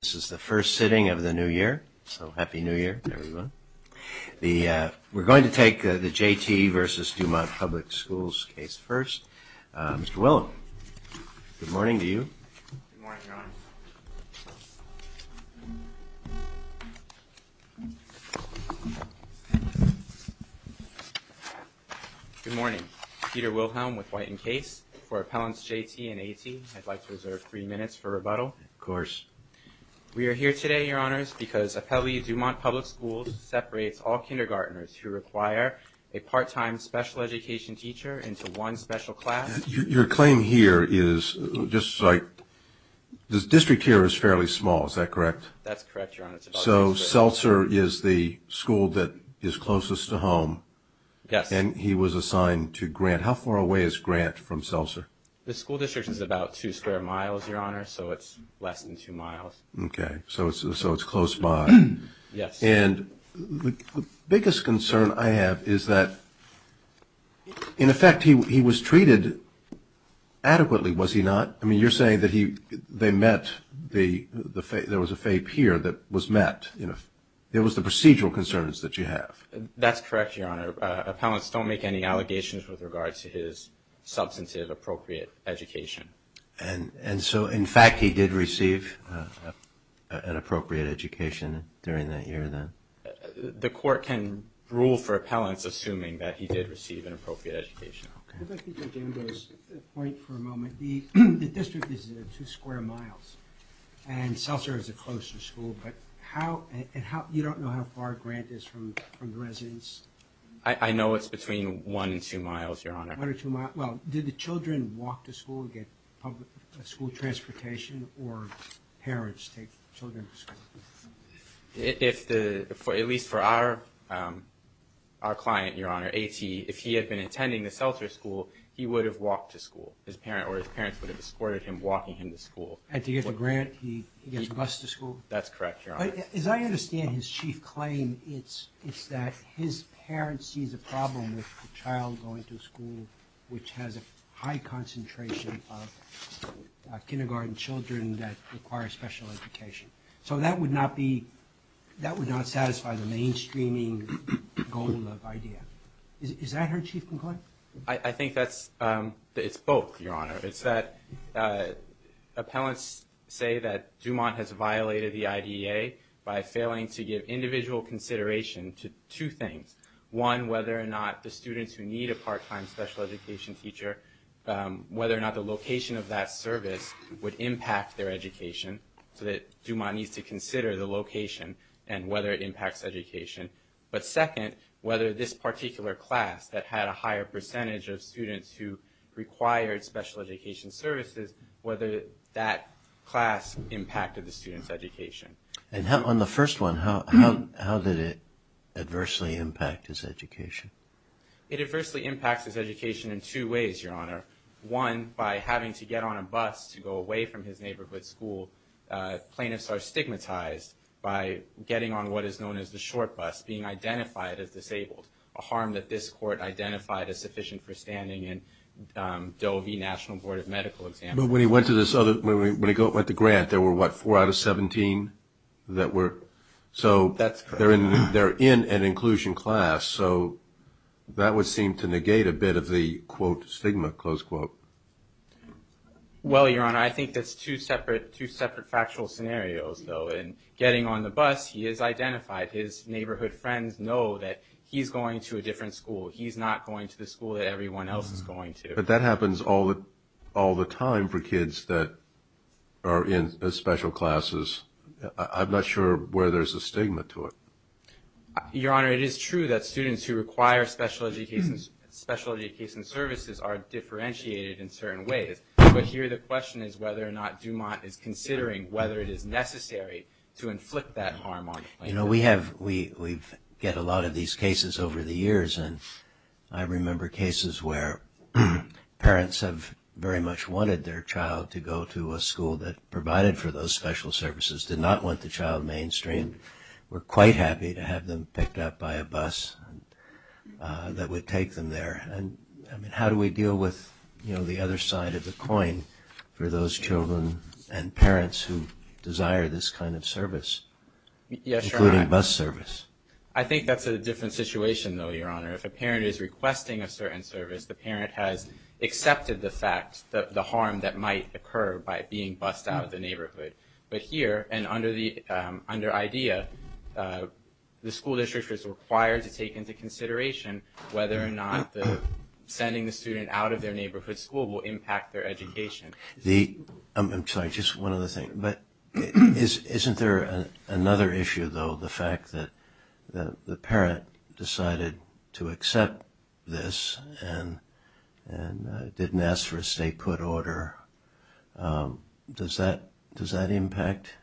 This is the first sitting of the new year, so happy new year everyone. We're going to take the J.T.v.Dumont Public Schools case first. Mr. Wilhelm, good morning to you. Good morning, Your Honor. Good morning. Peter Wilhelm with White and Case. For Appellants J.T. and A.T., I'd like to reserve three minutes for rebuttal. Of course. We are here today, Your Honors, because Appellee Dumont Public Schools separates all kindergartners who require a part-time special education teacher into one special class. Your claim here is just like this district here is fairly small, is that correct? That's correct, Your Honor. So Seltzer is the school that is closest to home. Yes. And he was assigned to Grant. How far away is Grant from Seltzer? The school district is about two square miles, Your Honor, so it's less than two miles. Okay. So it's close by. Yes. And the biggest concern I have is that, in effect, he was treated adequately, was he not? I mean, you're saying that they met, there was a FAPE here that was met. It was the procedural concerns that you have. That's correct, Your Honor. Appellants don't make any allegations with regard to his substantive appropriate education. And so, in fact, he did receive an appropriate education during that year then? The court can rule for appellants assuming that he did receive an appropriate education. Okay. I'd like to take Amber's point for a moment. The district is two square miles, and Seltzer is the closest school, but you don't know how far Grant is from the residence? I know it's between one and two miles, Your Honor. One or two miles. Well, did the children walk to school, get school transportation, or parents take children to school? At least for our client, Your Honor, A.T., if he had been attending the Seltzer school, he would have walked to school. His parents would have escorted him, walking him to school. And to get to Grant, he gets a bus to school? That's correct, Your Honor. As I understand his chief claim, it's that his parents see the problem with the child going to school, which has a high concentration of kindergarten children that require special education. So that would not be – that would not satisfy the mainstreaming goal of the idea. Is that her chief complaint? I think that's – it's both, Your Honor. It's that appellants say that Dumont has violated the IDEA by failing to give individual consideration to two things. One, whether or not the students who need a part-time special education teacher, whether or not the location of that service would impact their education, so that Dumont needs to consider the location and whether it impacts education. But second, whether this particular class that had a higher percentage of students who required special education services, whether that class impacted the student's education. And on the first one, how did it adversely impact his education? It adversely impacts his education in two ways, Your Honor. One, by having to get on a bus to go away from his neighborhood school. Plaintiffs are stigmatized by getting on what is known as the short bus, being identified as disabled, a harm that this court identified as sufficient for standing in Doe v. National Board of Medical Examiner. But when he went to this other – when he went to Grant, there were, what, four out of 17 that were – That's correct. So they're in an inclusion class, so that would seem to negate a bit of the, quote, stigma, close quote. Well, Your Honor, I think that's two separate factual scenarios, though. In getting on the bus, he is identified. His neighborhood friends know that he's going to a different school. He's not going to the school that everyone else is going to. But that happens all the time for kids that are in special classes. I'm not sure where there's a stigma to it. Your Honor, it is true that students who require special education services are differentiated in certain ways. But here the question is whether or not Dumont is considering whether it is necessary to inflict that harm on them. You know, we have – we get a lot of these cases over the years, and I remember cases where parents have very much wanted their child to go to a school that provided for those special services, did not want the child mainstreamed. We're quite happy to have them picked up by a bus that would take them there. And, I mean, how do we deal with, you know, the other side of the coin for those children and parents who desire this kind of service? Yes, Your Honor. Including bus service. I think that's a different situation, though, Your Honor. If a parent is requesting a certain service, the parent has accepted the fact, the harm that might occur by being bused out of the neighborhood. But here, and under IDEA, the school district is required to take into consideration whether or not sending the student out of their neighborhood school will impact their education. The – I'm sorry, just one other thing. But isn't there another issue, though, the fact that the parent decided to accept this and didn't ask for a state put order? Does that impact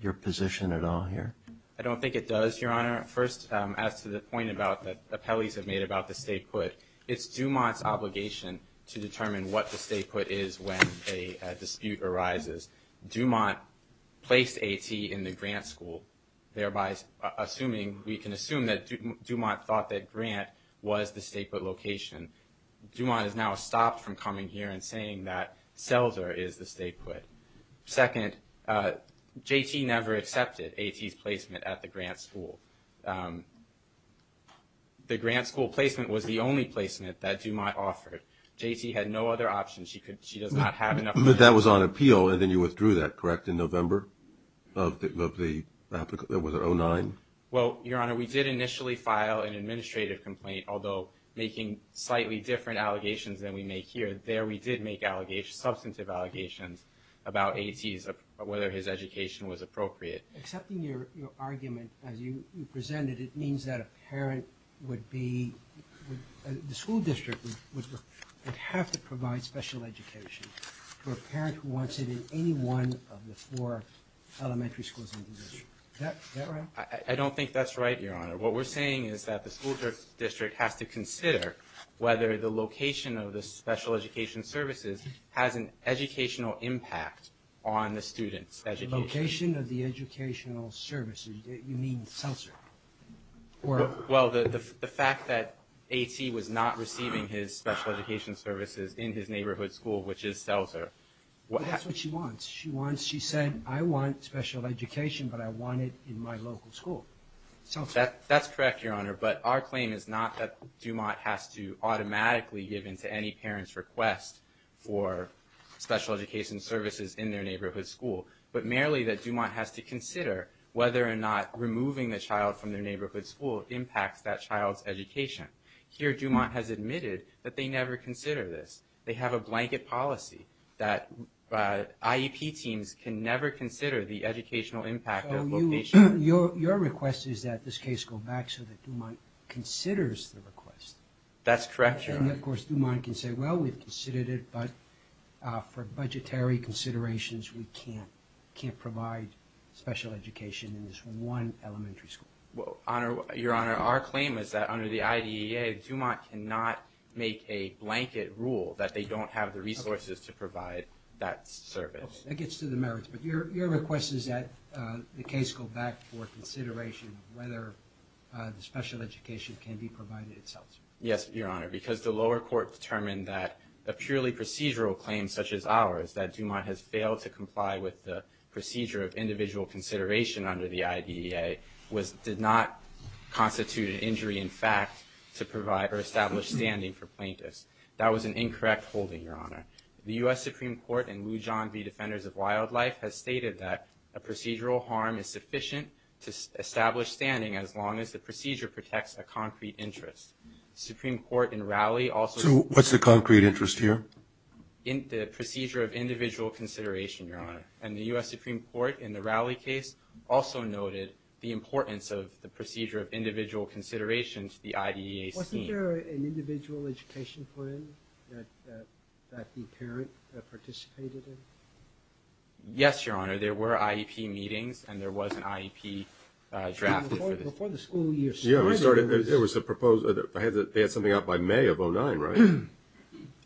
your position at all here? I don't think it does, Your Honor. First, as to the point about – that appellees have made about the state put, it's Dumont's obligation to determine what the state put is when a dispute arises. Dumont placed AT in the Grant School, thereby assuming – we can assume that Dumont thought that Grant was the state put location. Dumont has now stopped from coming here and saying that Selzer is the state put. Second, JT never accepted AT's placement at the Grant School. The Grant School placement was the only placement that Dumont offered. JT had no other option. She could – she does not have enough – But that was on appeal, and then you withdrew that, correct, in November of the – was it 2009? Well, Your Honor, we did initially file an administrative complaint, although making slightly different allegations than we make here. There we did make allegations, substantive allegations, about AT's – whether his education was appropriate. Accepting your argument, as you presented, it means that a parent would be – the school district would have to provide special education for a parent who wants it in any one of the four elementary schools in the district. Is that right? I don't think that's right, Your Honor. What we're saying is that the school district has to consider whether the location of the special education services has an educational impact on the students' education. The location of the educational services. You mean Selzer? Well, the fact that AT was not receiving his special education services in his neighborhood school, which is Selzer – That's what she wants. She wants – she said, I want special education, but I want it in my local school. Selzer. That's correct, Your Honor, but our claim is not that Dumont has to automatically give in to any parent's request for special education services in their neighborhood school, but merely that Dumont has to consider whether or not removing the child from their neighborhood school impacts that child's education. Here, Dumont has admitted that they never consider this. They have a blanket policy that IEP teams can never consider the educational impact of location. Your request is that this case go back so that Dumont considers the request. That's correct, Your Honor. And, of course, Dumont can say, well, we've considered it, but for budgetary considerations, we can't provide special education in this one elementary school. Well, Your Honor, our claim is that under the IDEA, Dumont cannot make a blanket rule that they don't have the resources to provide that service. Okay. That gets to the merits, but your request is that the case go back for consideration of whether the special education can be provided at Selzer. Yes, Your Honor, because the lower court determined that a purely procedural claim such as ours, that Dumont has failed to comply with the procedure of individual consideration under the IDEA, did not constitute an injury in fact to provide or establish standing for plaintiffs. That was an incorrect holding, Your Honor. The U.S. Supreme Court and Lujan v. Defenders of Wildlife has stated that a procedural harm is sufficient to establish standing as long as the procedure protects a concrete interest. The Supreme Court in Raleigh also… So what's the concrete interest here? The procedure of individual consideration, Your Honor, and the U.S. Supreme Court in the Raleigh case also noted the importance of the procedure of individual consideration to the IDEA scene. Wasn't there an individual education plan that the parent participated in? Yes, Your Honor, there were IEP meetings and there was an IEP drafted for this. Before the school year started… Yeah, there was a proposal. They had something out by May of 2009,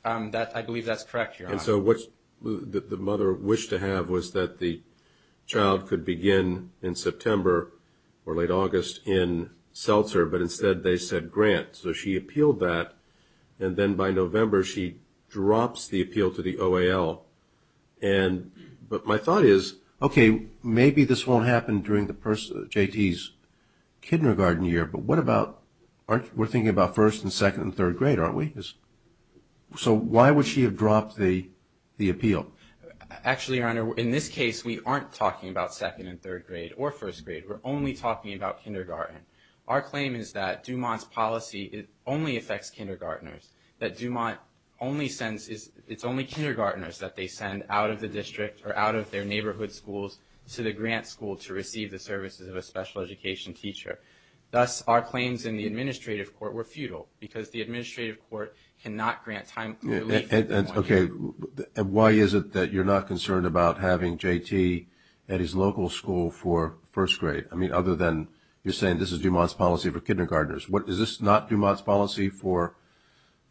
right? I believe that's correct, Your Honor. And so what the mother wished to have was that the child could begin in September or late August in Seltzer, but instead they said Grant. So she appealed that, and then by November she drops the appeal to the OAL. But my thought is, okay, maybe this won't happen during J.T.'s kindergarten year, but what about – we're thinking about first and second and third grade, aren't we? So why would she have dropped the appeal? Actually, Your Honor, in this case we aren't talking about second and third grade or first grade. We're only talking about kindergarten. Our claim is that Dumont's policy only affects kindergartners, that Dumont only sends – it's only kindergartners that they send out of the district or out of their neighborhood schools to the Grant school to receive the services of a special education teacher. Thus, our claims in the administrative court were futile because the administrative court cannot grant time – Okay, and why is it that you're not concerned about having J.T. at his local school for first grade? I mean, other than you're saying this is Dumont's policy for kindergartners. Is this not Dumont's policy for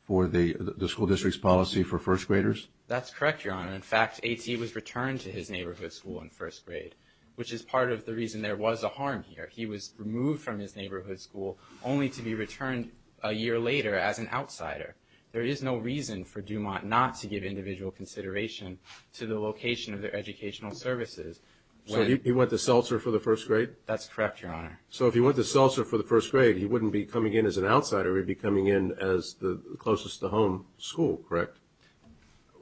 the school district's policy for first graders? That's correct, Your Honor. In fact, J.T. was returned to his neighborhood school in first grade, which is part of the reason there was a harm here. He was removed from his neighborhood school only to be returned a year later as an outsider. There is no reason for Dumont not to give individual consideration to the location of their educational services. So he went to Seltzer for the first grade? That's correct, Your Honor. So if he went to Seltzer for the first grade, he wouldn't be coming in as an outsider. He'd be coming in as the closest to home school, correct?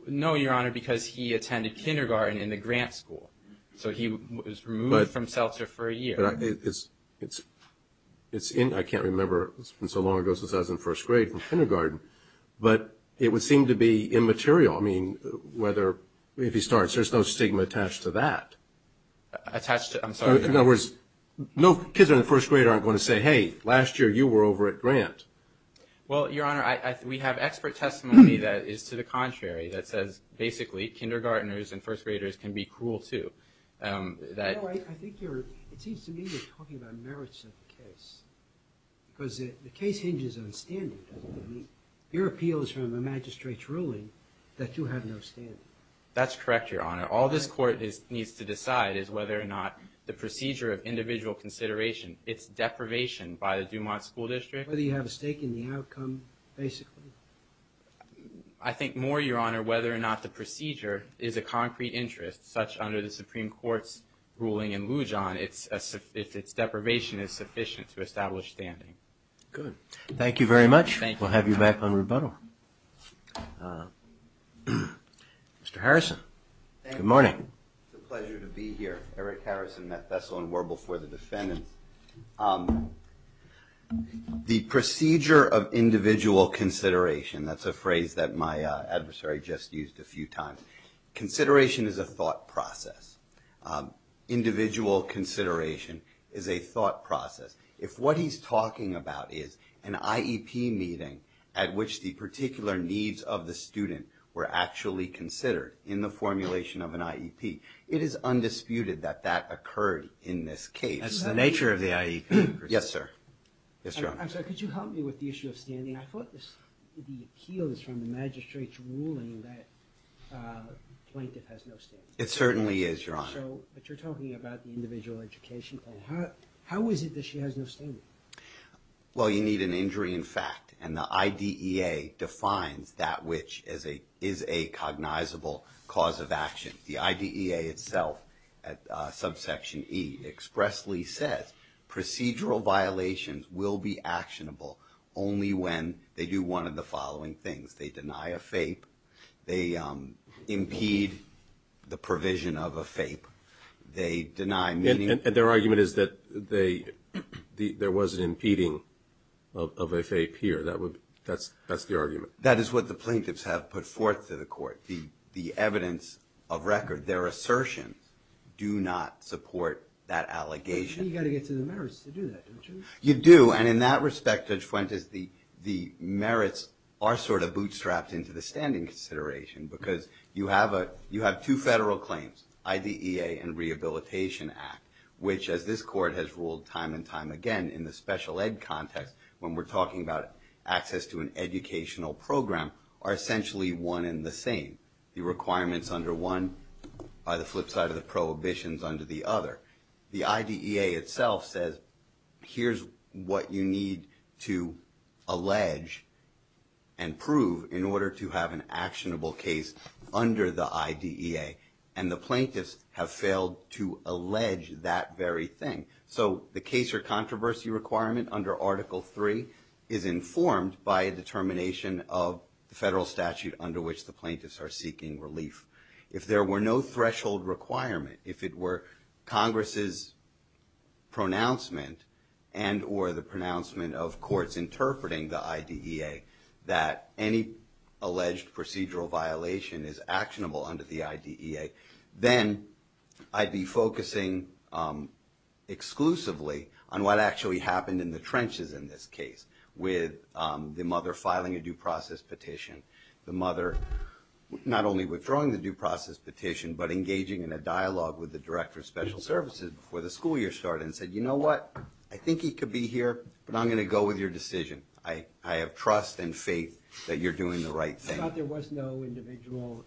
No, Your Honor, because he attended kindergarten in the Grant school. So he was removed from Seltzer for a year. I can't remember. It's been so long ago since I was in first grade in kindergarten. But it would seem to be immaterial. I mean, if he starts, there's no stigma attached to that. Attached to it? I'm sorry. In other words, no kids in first grade aren't going to say, hey, last year you were over at Grant. Well, Your Honor, we have expert testimony that is to the contrary, that says, basically, kindergartners and first graders can be cruel, too. No, I think you're – it seems to me you're talking about merits of the case. Because the case hinges on standing, doesn't it? Your appeal is from a magistrate's ruling that you have no standing. That's correct, Your Honor. All this Court needs to decide is whether or not the procedure of individual consideration, its deprivation by the Dumont School District. Whether you have a stake in the outcome, basically. I think more, Your Honor, whether or not the procedure is a concrete interest, such under the Supreme Court's ruling in Lujan, if its deprivation is sufficient to establish standing. Good. Thank you very much. Thank you. We'll have you back on rebuttal. Mr. Harrison. Good morning. It's a pleasure to be here. Eric Harrison, Bethesda and Warble for the defendants. The procedure of individual consideration, that's a phrase that my adversary just used a few times. Consideration is a thought process. Individual consideration is a thought process. If what he's talking about is an IEP meeting at which the particular needs of the student were actually considered in the formulation of an IEP, it is undisputed that that occurred in this case. That's the nature of the IEP. Yes, sir. I'm sorry, could you help me with the issue of standing? I thought the appeal is from the magistrate's ruling that the plaintiff has no standing. It certainly is, Your Honor. But you're talking about the individual education claim. How is it that she has no standing? Well, you need an injury in fact, and the IDEA defines that which is a cognizable cause of action. The IDEA itself at subsection E expressly says procedural violations will be actionable only when they do one of the following things. They deny a FAPE. They impede the provision of a FAPE. They deny meeting. And their argument is that there was an impeding of a FAPE here. That's the argument. That is what the plaintiffs have put forth to the court. The evidence of record, their assertions do not support that allegation. But you've got to get to the merits to do that, don't you? You do. And in that respect, Judge Fuentes, the merits are sort of bootstrapped into the standing consideration because you have two federal claims, IDEA and Rehabilitation Act, which as this court has ruled time and time again in the special ed context when we're talking about access to an educational program are essentially one and the same. The requirements under one are the flip side of the prohibitions under the other. The IDEA itself says here's what you need to allege and prove in order to have an actionable case under the IDEA. And the plaintiffs have failed to allege that very thing. So the case or controversy requirement under Article III is informed by a determination of the federal statute under which the plaintiffs are seeking relief. If there were no threshold requirement, if it were Congress's pronouncement and or the pronouncement of courts interpreting the IDEA, that any alleged procedural violation is actionable under the IDEA, then I'd be focusing exclusively on what actually happened in the trenches in this case with the mother filing a due process petition, the mother not only withdrawing the due process petition but engaging in a dialogue with the director of special services before the school year started and said, you know what, I think he could be here, but I'm going to go with your decision. I have trust and faith that you're doing the right thing. I thought there was no individual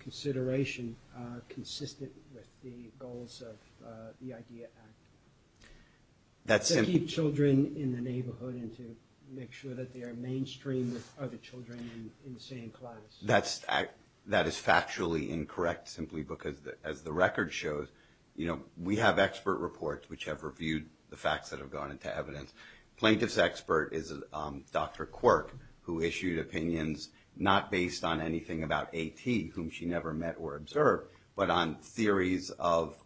consideration consistent with the goals of the IDEA Act. To keep children in the neighborhood and to make sure that they are mainstream with other children in the same class. That is factually incorrect simply because, as the record shows, we have expert reports which have reviewed the facts that have gone into evidence. Plaintiff's expert is Dr. Quirk, who issued opinions not based on anything about AT, whom she never met or observed, but on theories of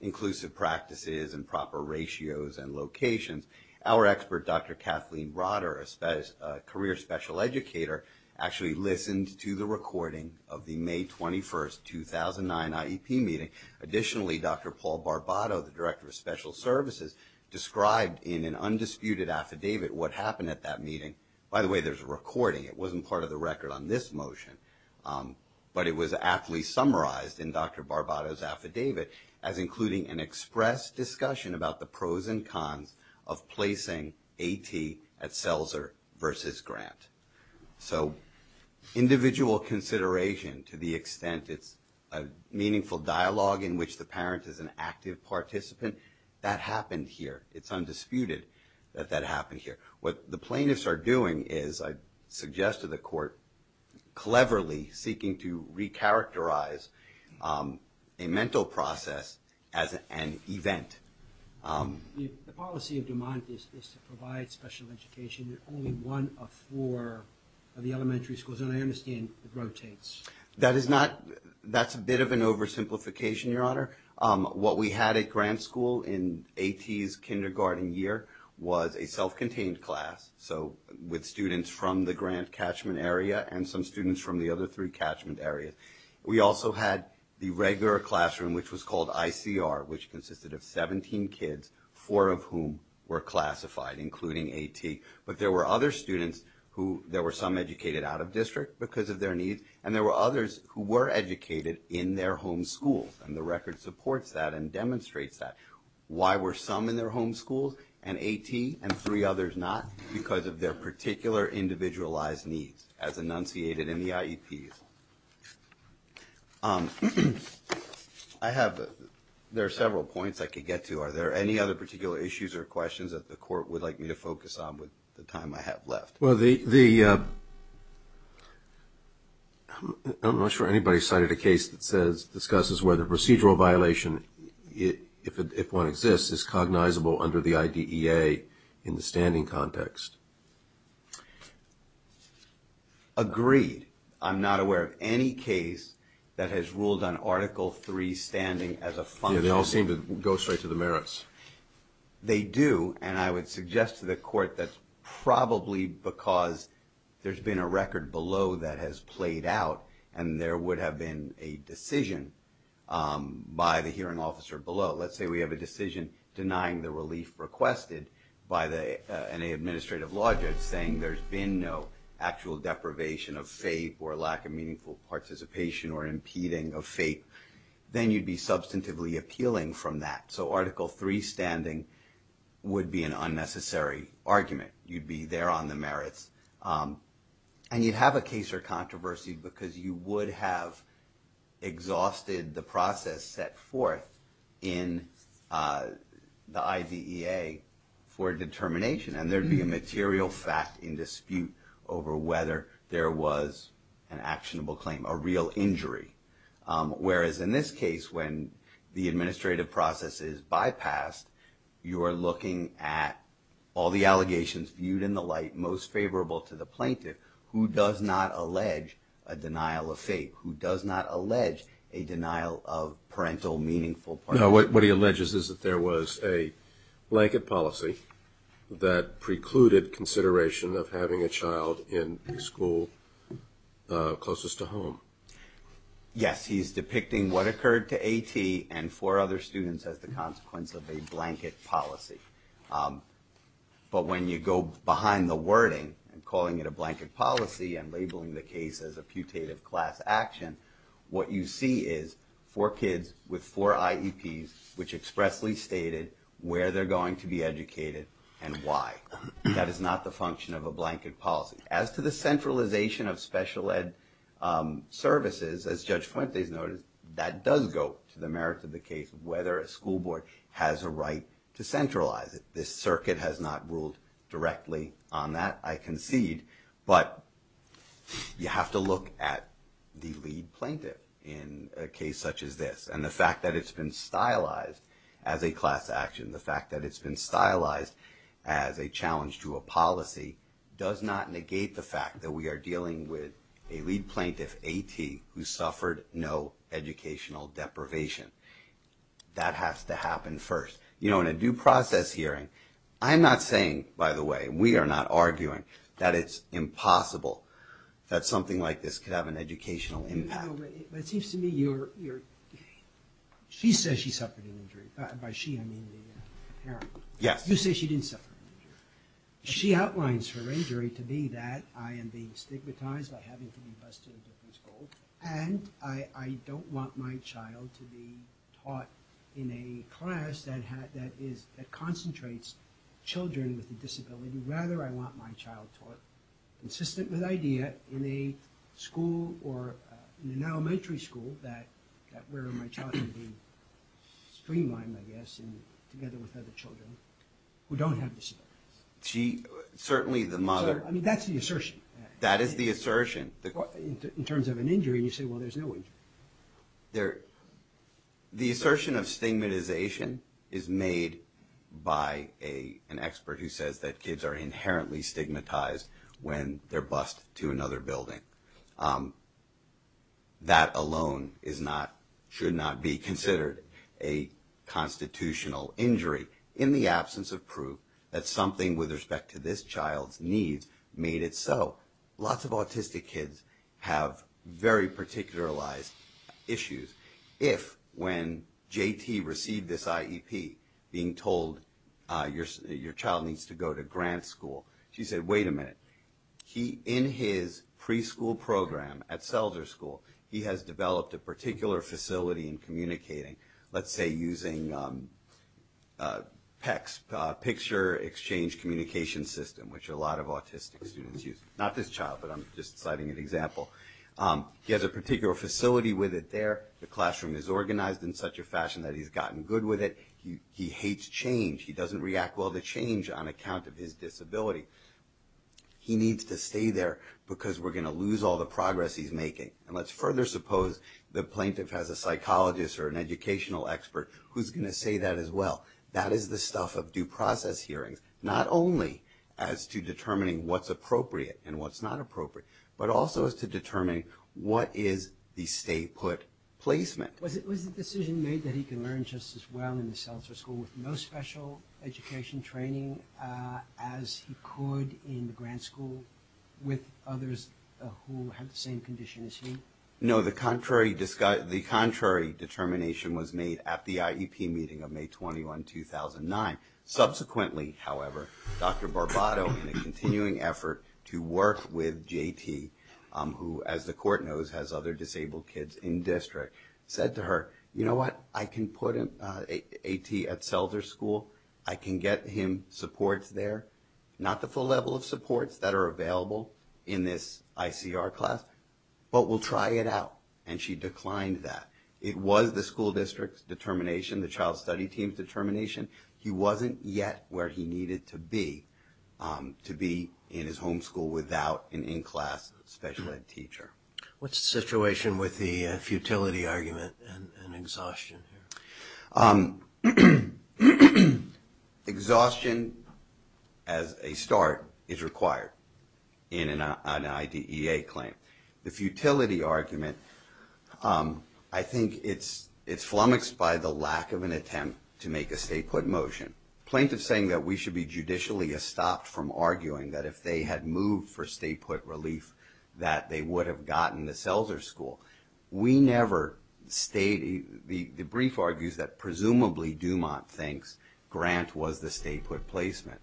inclusive practices and proper ratios and locations. Our expert, Dr. Kathleen Rotter, a career special educator, actually listened to the recording of the May 21st, 2009 IEP meeting. Additionally, Dr. Paul Barbato, the director of special services, described in an undisputed affidavit what happened at that meeting. By the way, there's a recording. It wasn't part of the record on this motion. But it was aptly summarized in Dr. Barbato's affidavit as including an express discussion about the pros and cons of placing AT at Seltzer versus Grant. So individual consideration to the extent it's a meaningful dialogue in which the parent is an active participant, that happened here. It's undisputed that that happened here. What the plaintiffs are doing is, I suggest to the court, cleverly seeking to recharacterize a mental process as an event. The policy of DuMont is to provide special education in only one of four of the elementary schools. And I understand it rotates. That's a bit of an oversimplification, Your Honor. What we had at Grant School in AT's kindergarten year was a self-contained class, so with students from the Grant catchment area and some students from the other three catchment areas. We also had the regular classroom, which was called ICR, which consisted of 17 kids, four of whom were classified, including AT. But there were other students who there were some educated out of district because of their needs, and there were others who were educated in their home schools. And the record supports that and demonstrates that. Why were some in their home schools and AT and three others not? Because of their particular individualized needs, as enunciated in the IEPs. I have, there are several points I could get to. Are there any other particular issues or questions that the court would like me to focus on with the time I have left? Well, the, I'm not sure anybody cited a case that says, discusses whether procedural violation, if one exists, is cognizable under the IDEA in the standing context. Agreed. I'm not aware of any case that has ruled on Article III standing as a function. Yeah, they all seem to go straight to the merits. They do, and I would suggest to the court that's probably because there's been a record below that has played out and there would have been a decision by the hearing officer below. Let's say we have a decision denying the relief requested by an administrative law judge saying there's been no actual deprivation of fate or lack of meaningful participation or impeding of fate, then you'd be substantively appealing from that. So Article III standing would be an unnecessary argument. You'd be there on the merits. And you'd have a case or controversy because you would have exhausted the process set forth in the IDEA for determination, and there'd be a material fact in dispute over whether there was an actionable claim, a real injury. Whereas in this case, when the administrative process is bypassed, you are looking at all the allegations viewed in the light most favorable to the plaintiff who does not allege a denial of fate, who does not allege a denial of parental meaningful participation. Now, what he alleges is that there was a blanket policy that precluded consideration of having a child in school closest to home. Yes. He's depicting what occurred to A.T. and four other students as the consequence of a blanket policy. But when you go behind the wording and calling it a blanket policy and labeling the case as a putative class action, what you see is four kids with four IEPs which expressly stated where they're going to be educated and why. That is not the function of a blanket policy. As to the centralization of special ed services, as Judge Fuentes noted, that does go to the merits of the case of whether a school board has a right to centralize it. This circuit has not ruled directly on that, I concede. But you have to look at the lead plaintiff in a case such as this. And the fact that it's been stylized as a class action, the fact that it's been stylized as a challenge to a policy, does not negate the fact that we are dealing with a lead plaintiff, A.T., who suffered no educational deprivation. That has to happen first. You know, in a due process hearing, I'm not saying, by the way, we are not arguing that it's impossible that something like this could have an educational impact. It seems to me you're, she says she suffered an injury, by she I mean the parent. Yes. You say she didn't suffer an injury. She outlines her injury to be that I am being stigmatized by having to be bused to a different school and I don't want my child to be taught in a class that concentrates children with a disability. Rather, I want my child taught, consistent with IDEA, in a school or in an elementary school where my child would be streamlined, I guess, together with other children who don't have disabilities. She, certainly the mother. I mean, that's the assertion. That is the assertion. In terms of an injury, you say, well, there's no injury. The assertion of stigmatization is made by an expert who says that kids are inherently stigmatized when they're bused to another building. That alone is not, should not be considered a constitutional injury in the absence of proof that something with respect to this child's needs made it so. Lots of autistic kids have very particularized issues. If, when JT received this IEP, being told your child needs to go to grant school, she said, wait a minute, in his preschool program at Selzer School, he has developed a particular facility in communicating, let's say using PECS, Picture Exchange Communication System, which a lot of autistic students use. Not this child, but I'm just citing an example. He has a particular facility with it there. The classroom is organized in such a fashion that he's gotten good with it. He hates change. He doesn't react well to change on account of his disability. He needs to stay there because we're going to lose all the progress he's making. And let's further suppose the plaintiff has a psychologist or an educational expert who's going to say that as well. That is the stuff of due process hearings, not only as to determining what's appropriate and what's not appropriate, but also as to determining what is the stay-put placement. Was the decision made that he can learn just as well in the Selzer School with no special education training as he could in the grant school with others who have the same condition as he? No, the contrary determination was made at the IEP meeting of May 21, 2009. Subsequently, however, Dr. Barbato, in a continuing effort to work with JT, who, as the court knows, has other disabled kids in-district, said to her, you know what? I can put AT at Selzer School. I can get him supports there. Not the full level of supports that are available in this ICR class, but we'll try it out, and she declined that. It was the school district's determination, the child study team's determination. He wasn't yet where he needed to be to be in his home school without an in-class special ed teacher. What's the situation with the futility argument and exhaustion here? Exhaustion as a start is required in an IDEA claim. The futility argument, I think it's flummoxed by the lack of an attempt to make a stay-put motion. Plaintiffs saying that we should be judicially stopped from arguing that if they had moved for stay-put relief, that they would have gotten the Selzer School. The brief argues that presumably Dumont thinks Grant was the stay-put placement.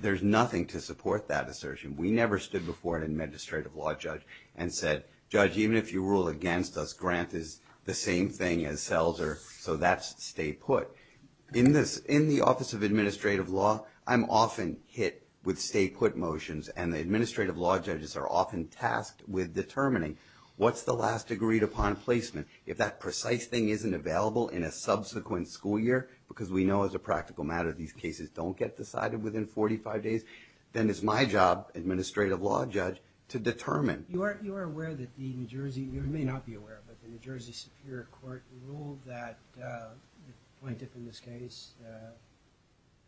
There's nothing to support that assertion. We never stood before an administrative law judge and said, Judge, even if you rule against us, Grant is the same thing as Selzer, so that's stay-put. In the Office of Administrative Law, I'm often hit with stay-put motions, and the administrative law judges are often tasked with determining what's the last agreed-upon placement. If that precise thing isn't available in a subsequent school year, because we know as a practical matter these cases don't get decided within 45 days, then it's my job, administrative law judge, to determine. You are aware that the New Jersey, you may not be aware of it, but the New Jersey Superior Court ruled that the plaintiff in this case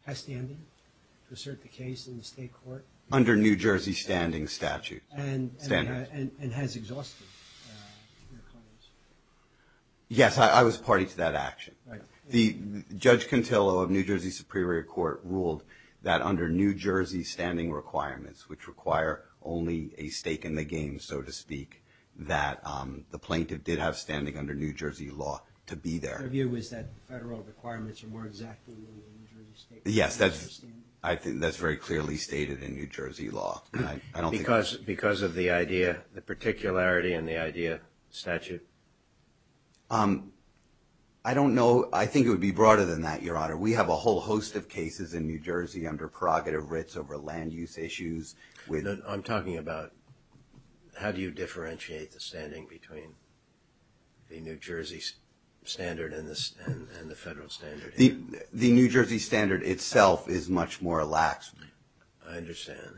has standing to assert the case in the state court. Under New Jersey standing statute. And has exhausted their claims. Yes, I was party to that action. The Judge Contillo of New Jersey Superior Court ruled that under New Jersey standing requirements, which require only a stake in the game, so to speak, that the plaintiff did have standing under New Jersey law to be there. Their view was that federal requirements were more exactly New Jersey state. Yes, that's very clearly stated in New Jersey law. Because of the idea, the particularity in the idea, statute? I don't know. I think it would be broader than that, Your Honor. We have a whole host of cases in New Jersey under prerogative writs over land use issues. I'm talking about how do you differentiate the standing between the New Jersey standard and the federal standard. The New Jersey standard itself is much more lax. I understand.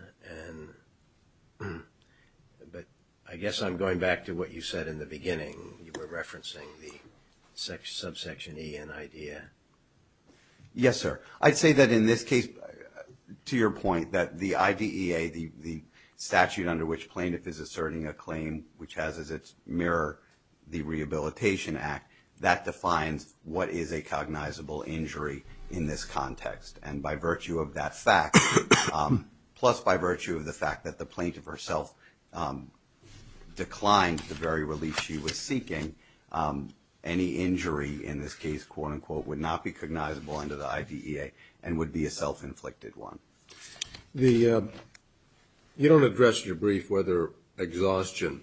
But I guess I'm going back to what you said in the beginning. You were referencing the subsection E in IDEA. Yes, sir. I'd say that in this case, to your point, that the IDEA, the statute under which plaintiff is asserting a claim, which has as its mirror the Rehabilitation Act, that defines what is a cognizable injury in this context. And by virtue of that fact, plus by virtue of the fact that the plaintiff herself declined the very relief she was seeking, any injury in this case, quote-unquote, would not be cognizable under the IDEA and would be a self-inflicted one. You don't address in your brief whether exhaustion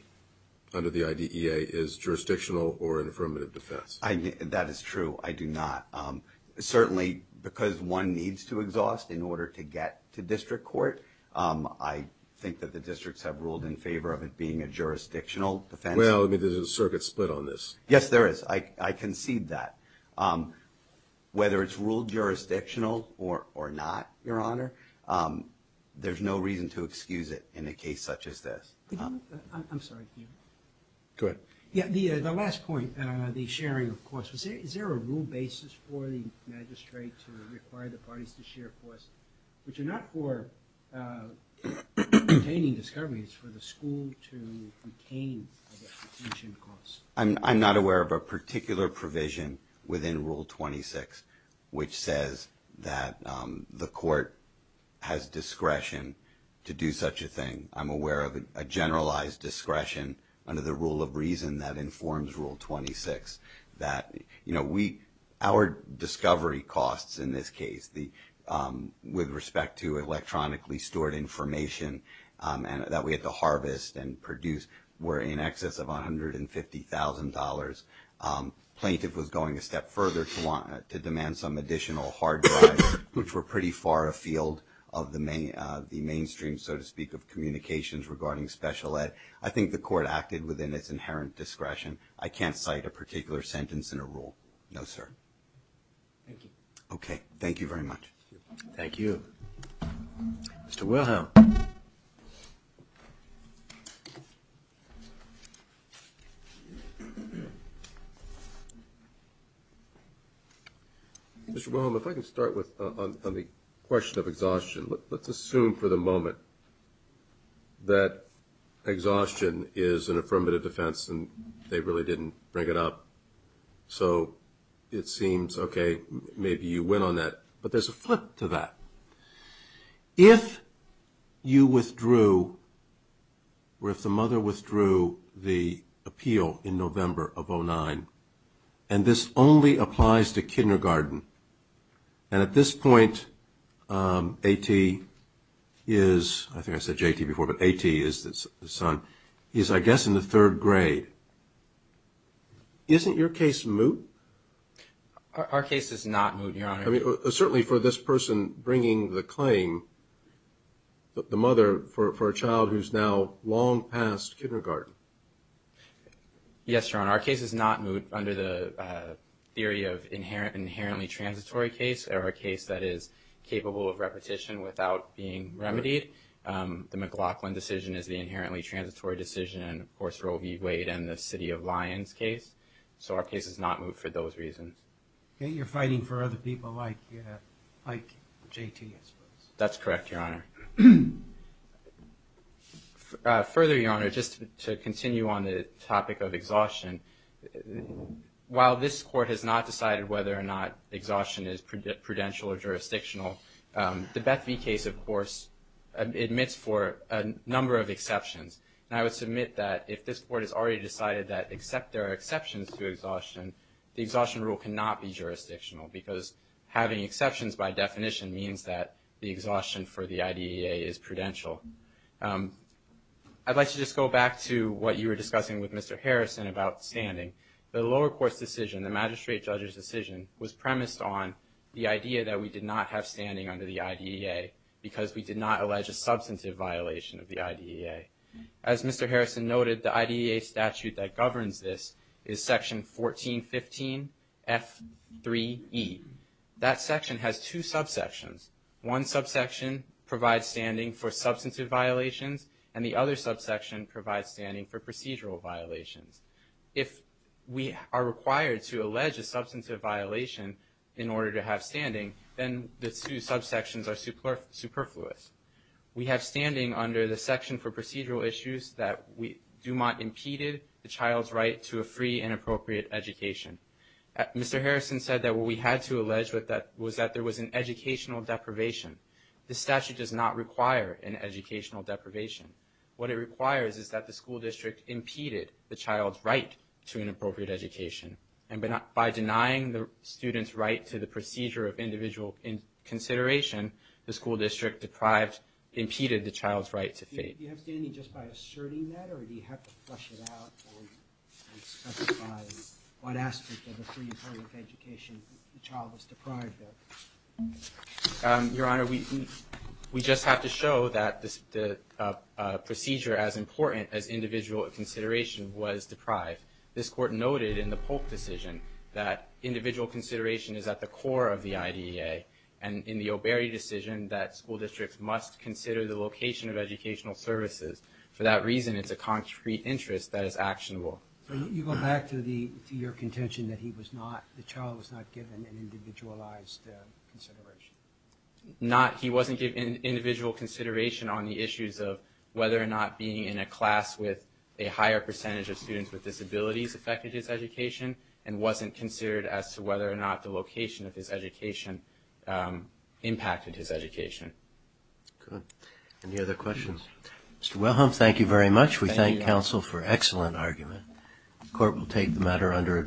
under the IDEA is jurisdictional or an affirmative defense. That is true. I do not. Certainly, because one needs to exhaust in order to get to district court, I think that the districts have ruled in favor of it being a jurisdictional defense. Well, there's a circuit split on this. Yes, there is. I concede that. Whether it's ruled jurisdictional or not, Your Honor, there's no reason to excuse it in a case such as this. I'm sorry. Go ahead. Yeah, the last point, the sharing of costs, is there a rule basis for the magistrate to require the parties to share costs, which are not for obtaining discoveries, it's for the school to obtain the retention costs? I'm not aware of a particular provision within Rule 26 which says that the court has discretion to do such a thing. I'm aware of a generalized discretion under the rule of reason that informs Rule 26. Our discovery costs in this case with respect to electronically stored information that we had to harvest and produce were in excess of $150,000. Plaintiff was going a step further to demand some additional hard drives, which were pretty far afield of the mainstream, so to speak, of communications regarding special ed. I think the court acted within its inherent discretion. I can't cite a particular sentence in a rule. No, sir. Thank you. Okay. Thank you very much. Thank you. Mr. Wilhelm. Mr. Wilhelm, if I can start on the question of exhaustion. Let's assume for the moment that exhaustion is an affirmative defense and they really didn't bring it up, so it seems, okay, maybe you win on that. But there's a flip to that. If you withdrew or if the mother withdrew the appeal in November of 2009 and this only applies to kindergarten and at this point A.T. is, I think I said J.T. before, but A.T. is the son, he's, I guess, in the third grade, isn't your case moot? Our case is not moot, Your Honor. Certainly for this person bringing the claim, the mother, for a child who's now long past kindergarten. Yes, Your Honor. Our case is not moot under the theory of inherently transitory case or a case that is capable of repetition without being remedied. The McLaughlin decision is the inherently transitory decision and, of course, Roe v. Wade and the City of Lions case. So our case is not moot for those reasons. You're fighting for other people like J.T., I suppose. That's correct, Your Honor. Further, Your Honor, just to continue on the topic of exhaustion, while this Court has not decided whether or not exhaustion is prudential or jurisdictional, the Bethvee case, of course, admits for a number of exceptions. And I would submit that if this Court has already decided that there are exceptions to exhaustion, the exhaustion rule cannot be jurisdictional because having exceptions by definition means that the exhaustion for the IDEA is prudential. I'd like to just go back to what you were discussing with Mr. Harrison about standing. The lower court's decision, the magistrate judge's decision, was premised on the idea that we did not have standing under the IDEA because we did not allege a substantive violation of the IDEA. As Mr. Harrison noted, the IDEA statute that governs this is Section 1415F3E. That section has two subsections. One subsection provides standing for substantive violations and the other subsection provides standing for procedural violations. If we are required to allege a substantive violation in order to have standing, then the two subsections are superfluous. We have standing under the section for procedural issues that Dumont impeded the child's right to a free and appropriate education. Mr. Harrison said that what we had to allege was that there was an educational deprivation. The statute does not require an educational deprivation. What it requires is that the school district impeded the child's right to an appropriate education. And by denying the student's right to the procedure of individual consideration, the school district impeded the child's right to faith. Do you have standing just by asserting that or do you have to flesh it out and specify what aspect of a free and appropriate education the child was deprived of? Your Honor, we just have to show that the procedure, as important as individual consideration, was deprived. This Court noted in the Polk decision that individual consideration is at the core of the IDEA and in the O'Berry decision that school districts must consider the location of educational services. For that reason, it's a concrete interest that is actionable. So you go back to your contention that the child was not given an individualized consideration? He wasn't given individual consideration on the issues of whether or not being in a class with a higher percentage of students with disabilities affected his education and wasn't considered as to whether or not the location of his education impacted his education. Good. Any other questions? Mr. Wilhelm, thank you very much. We thank counsel for an excellent argument. The Court will take the matter under adjournment.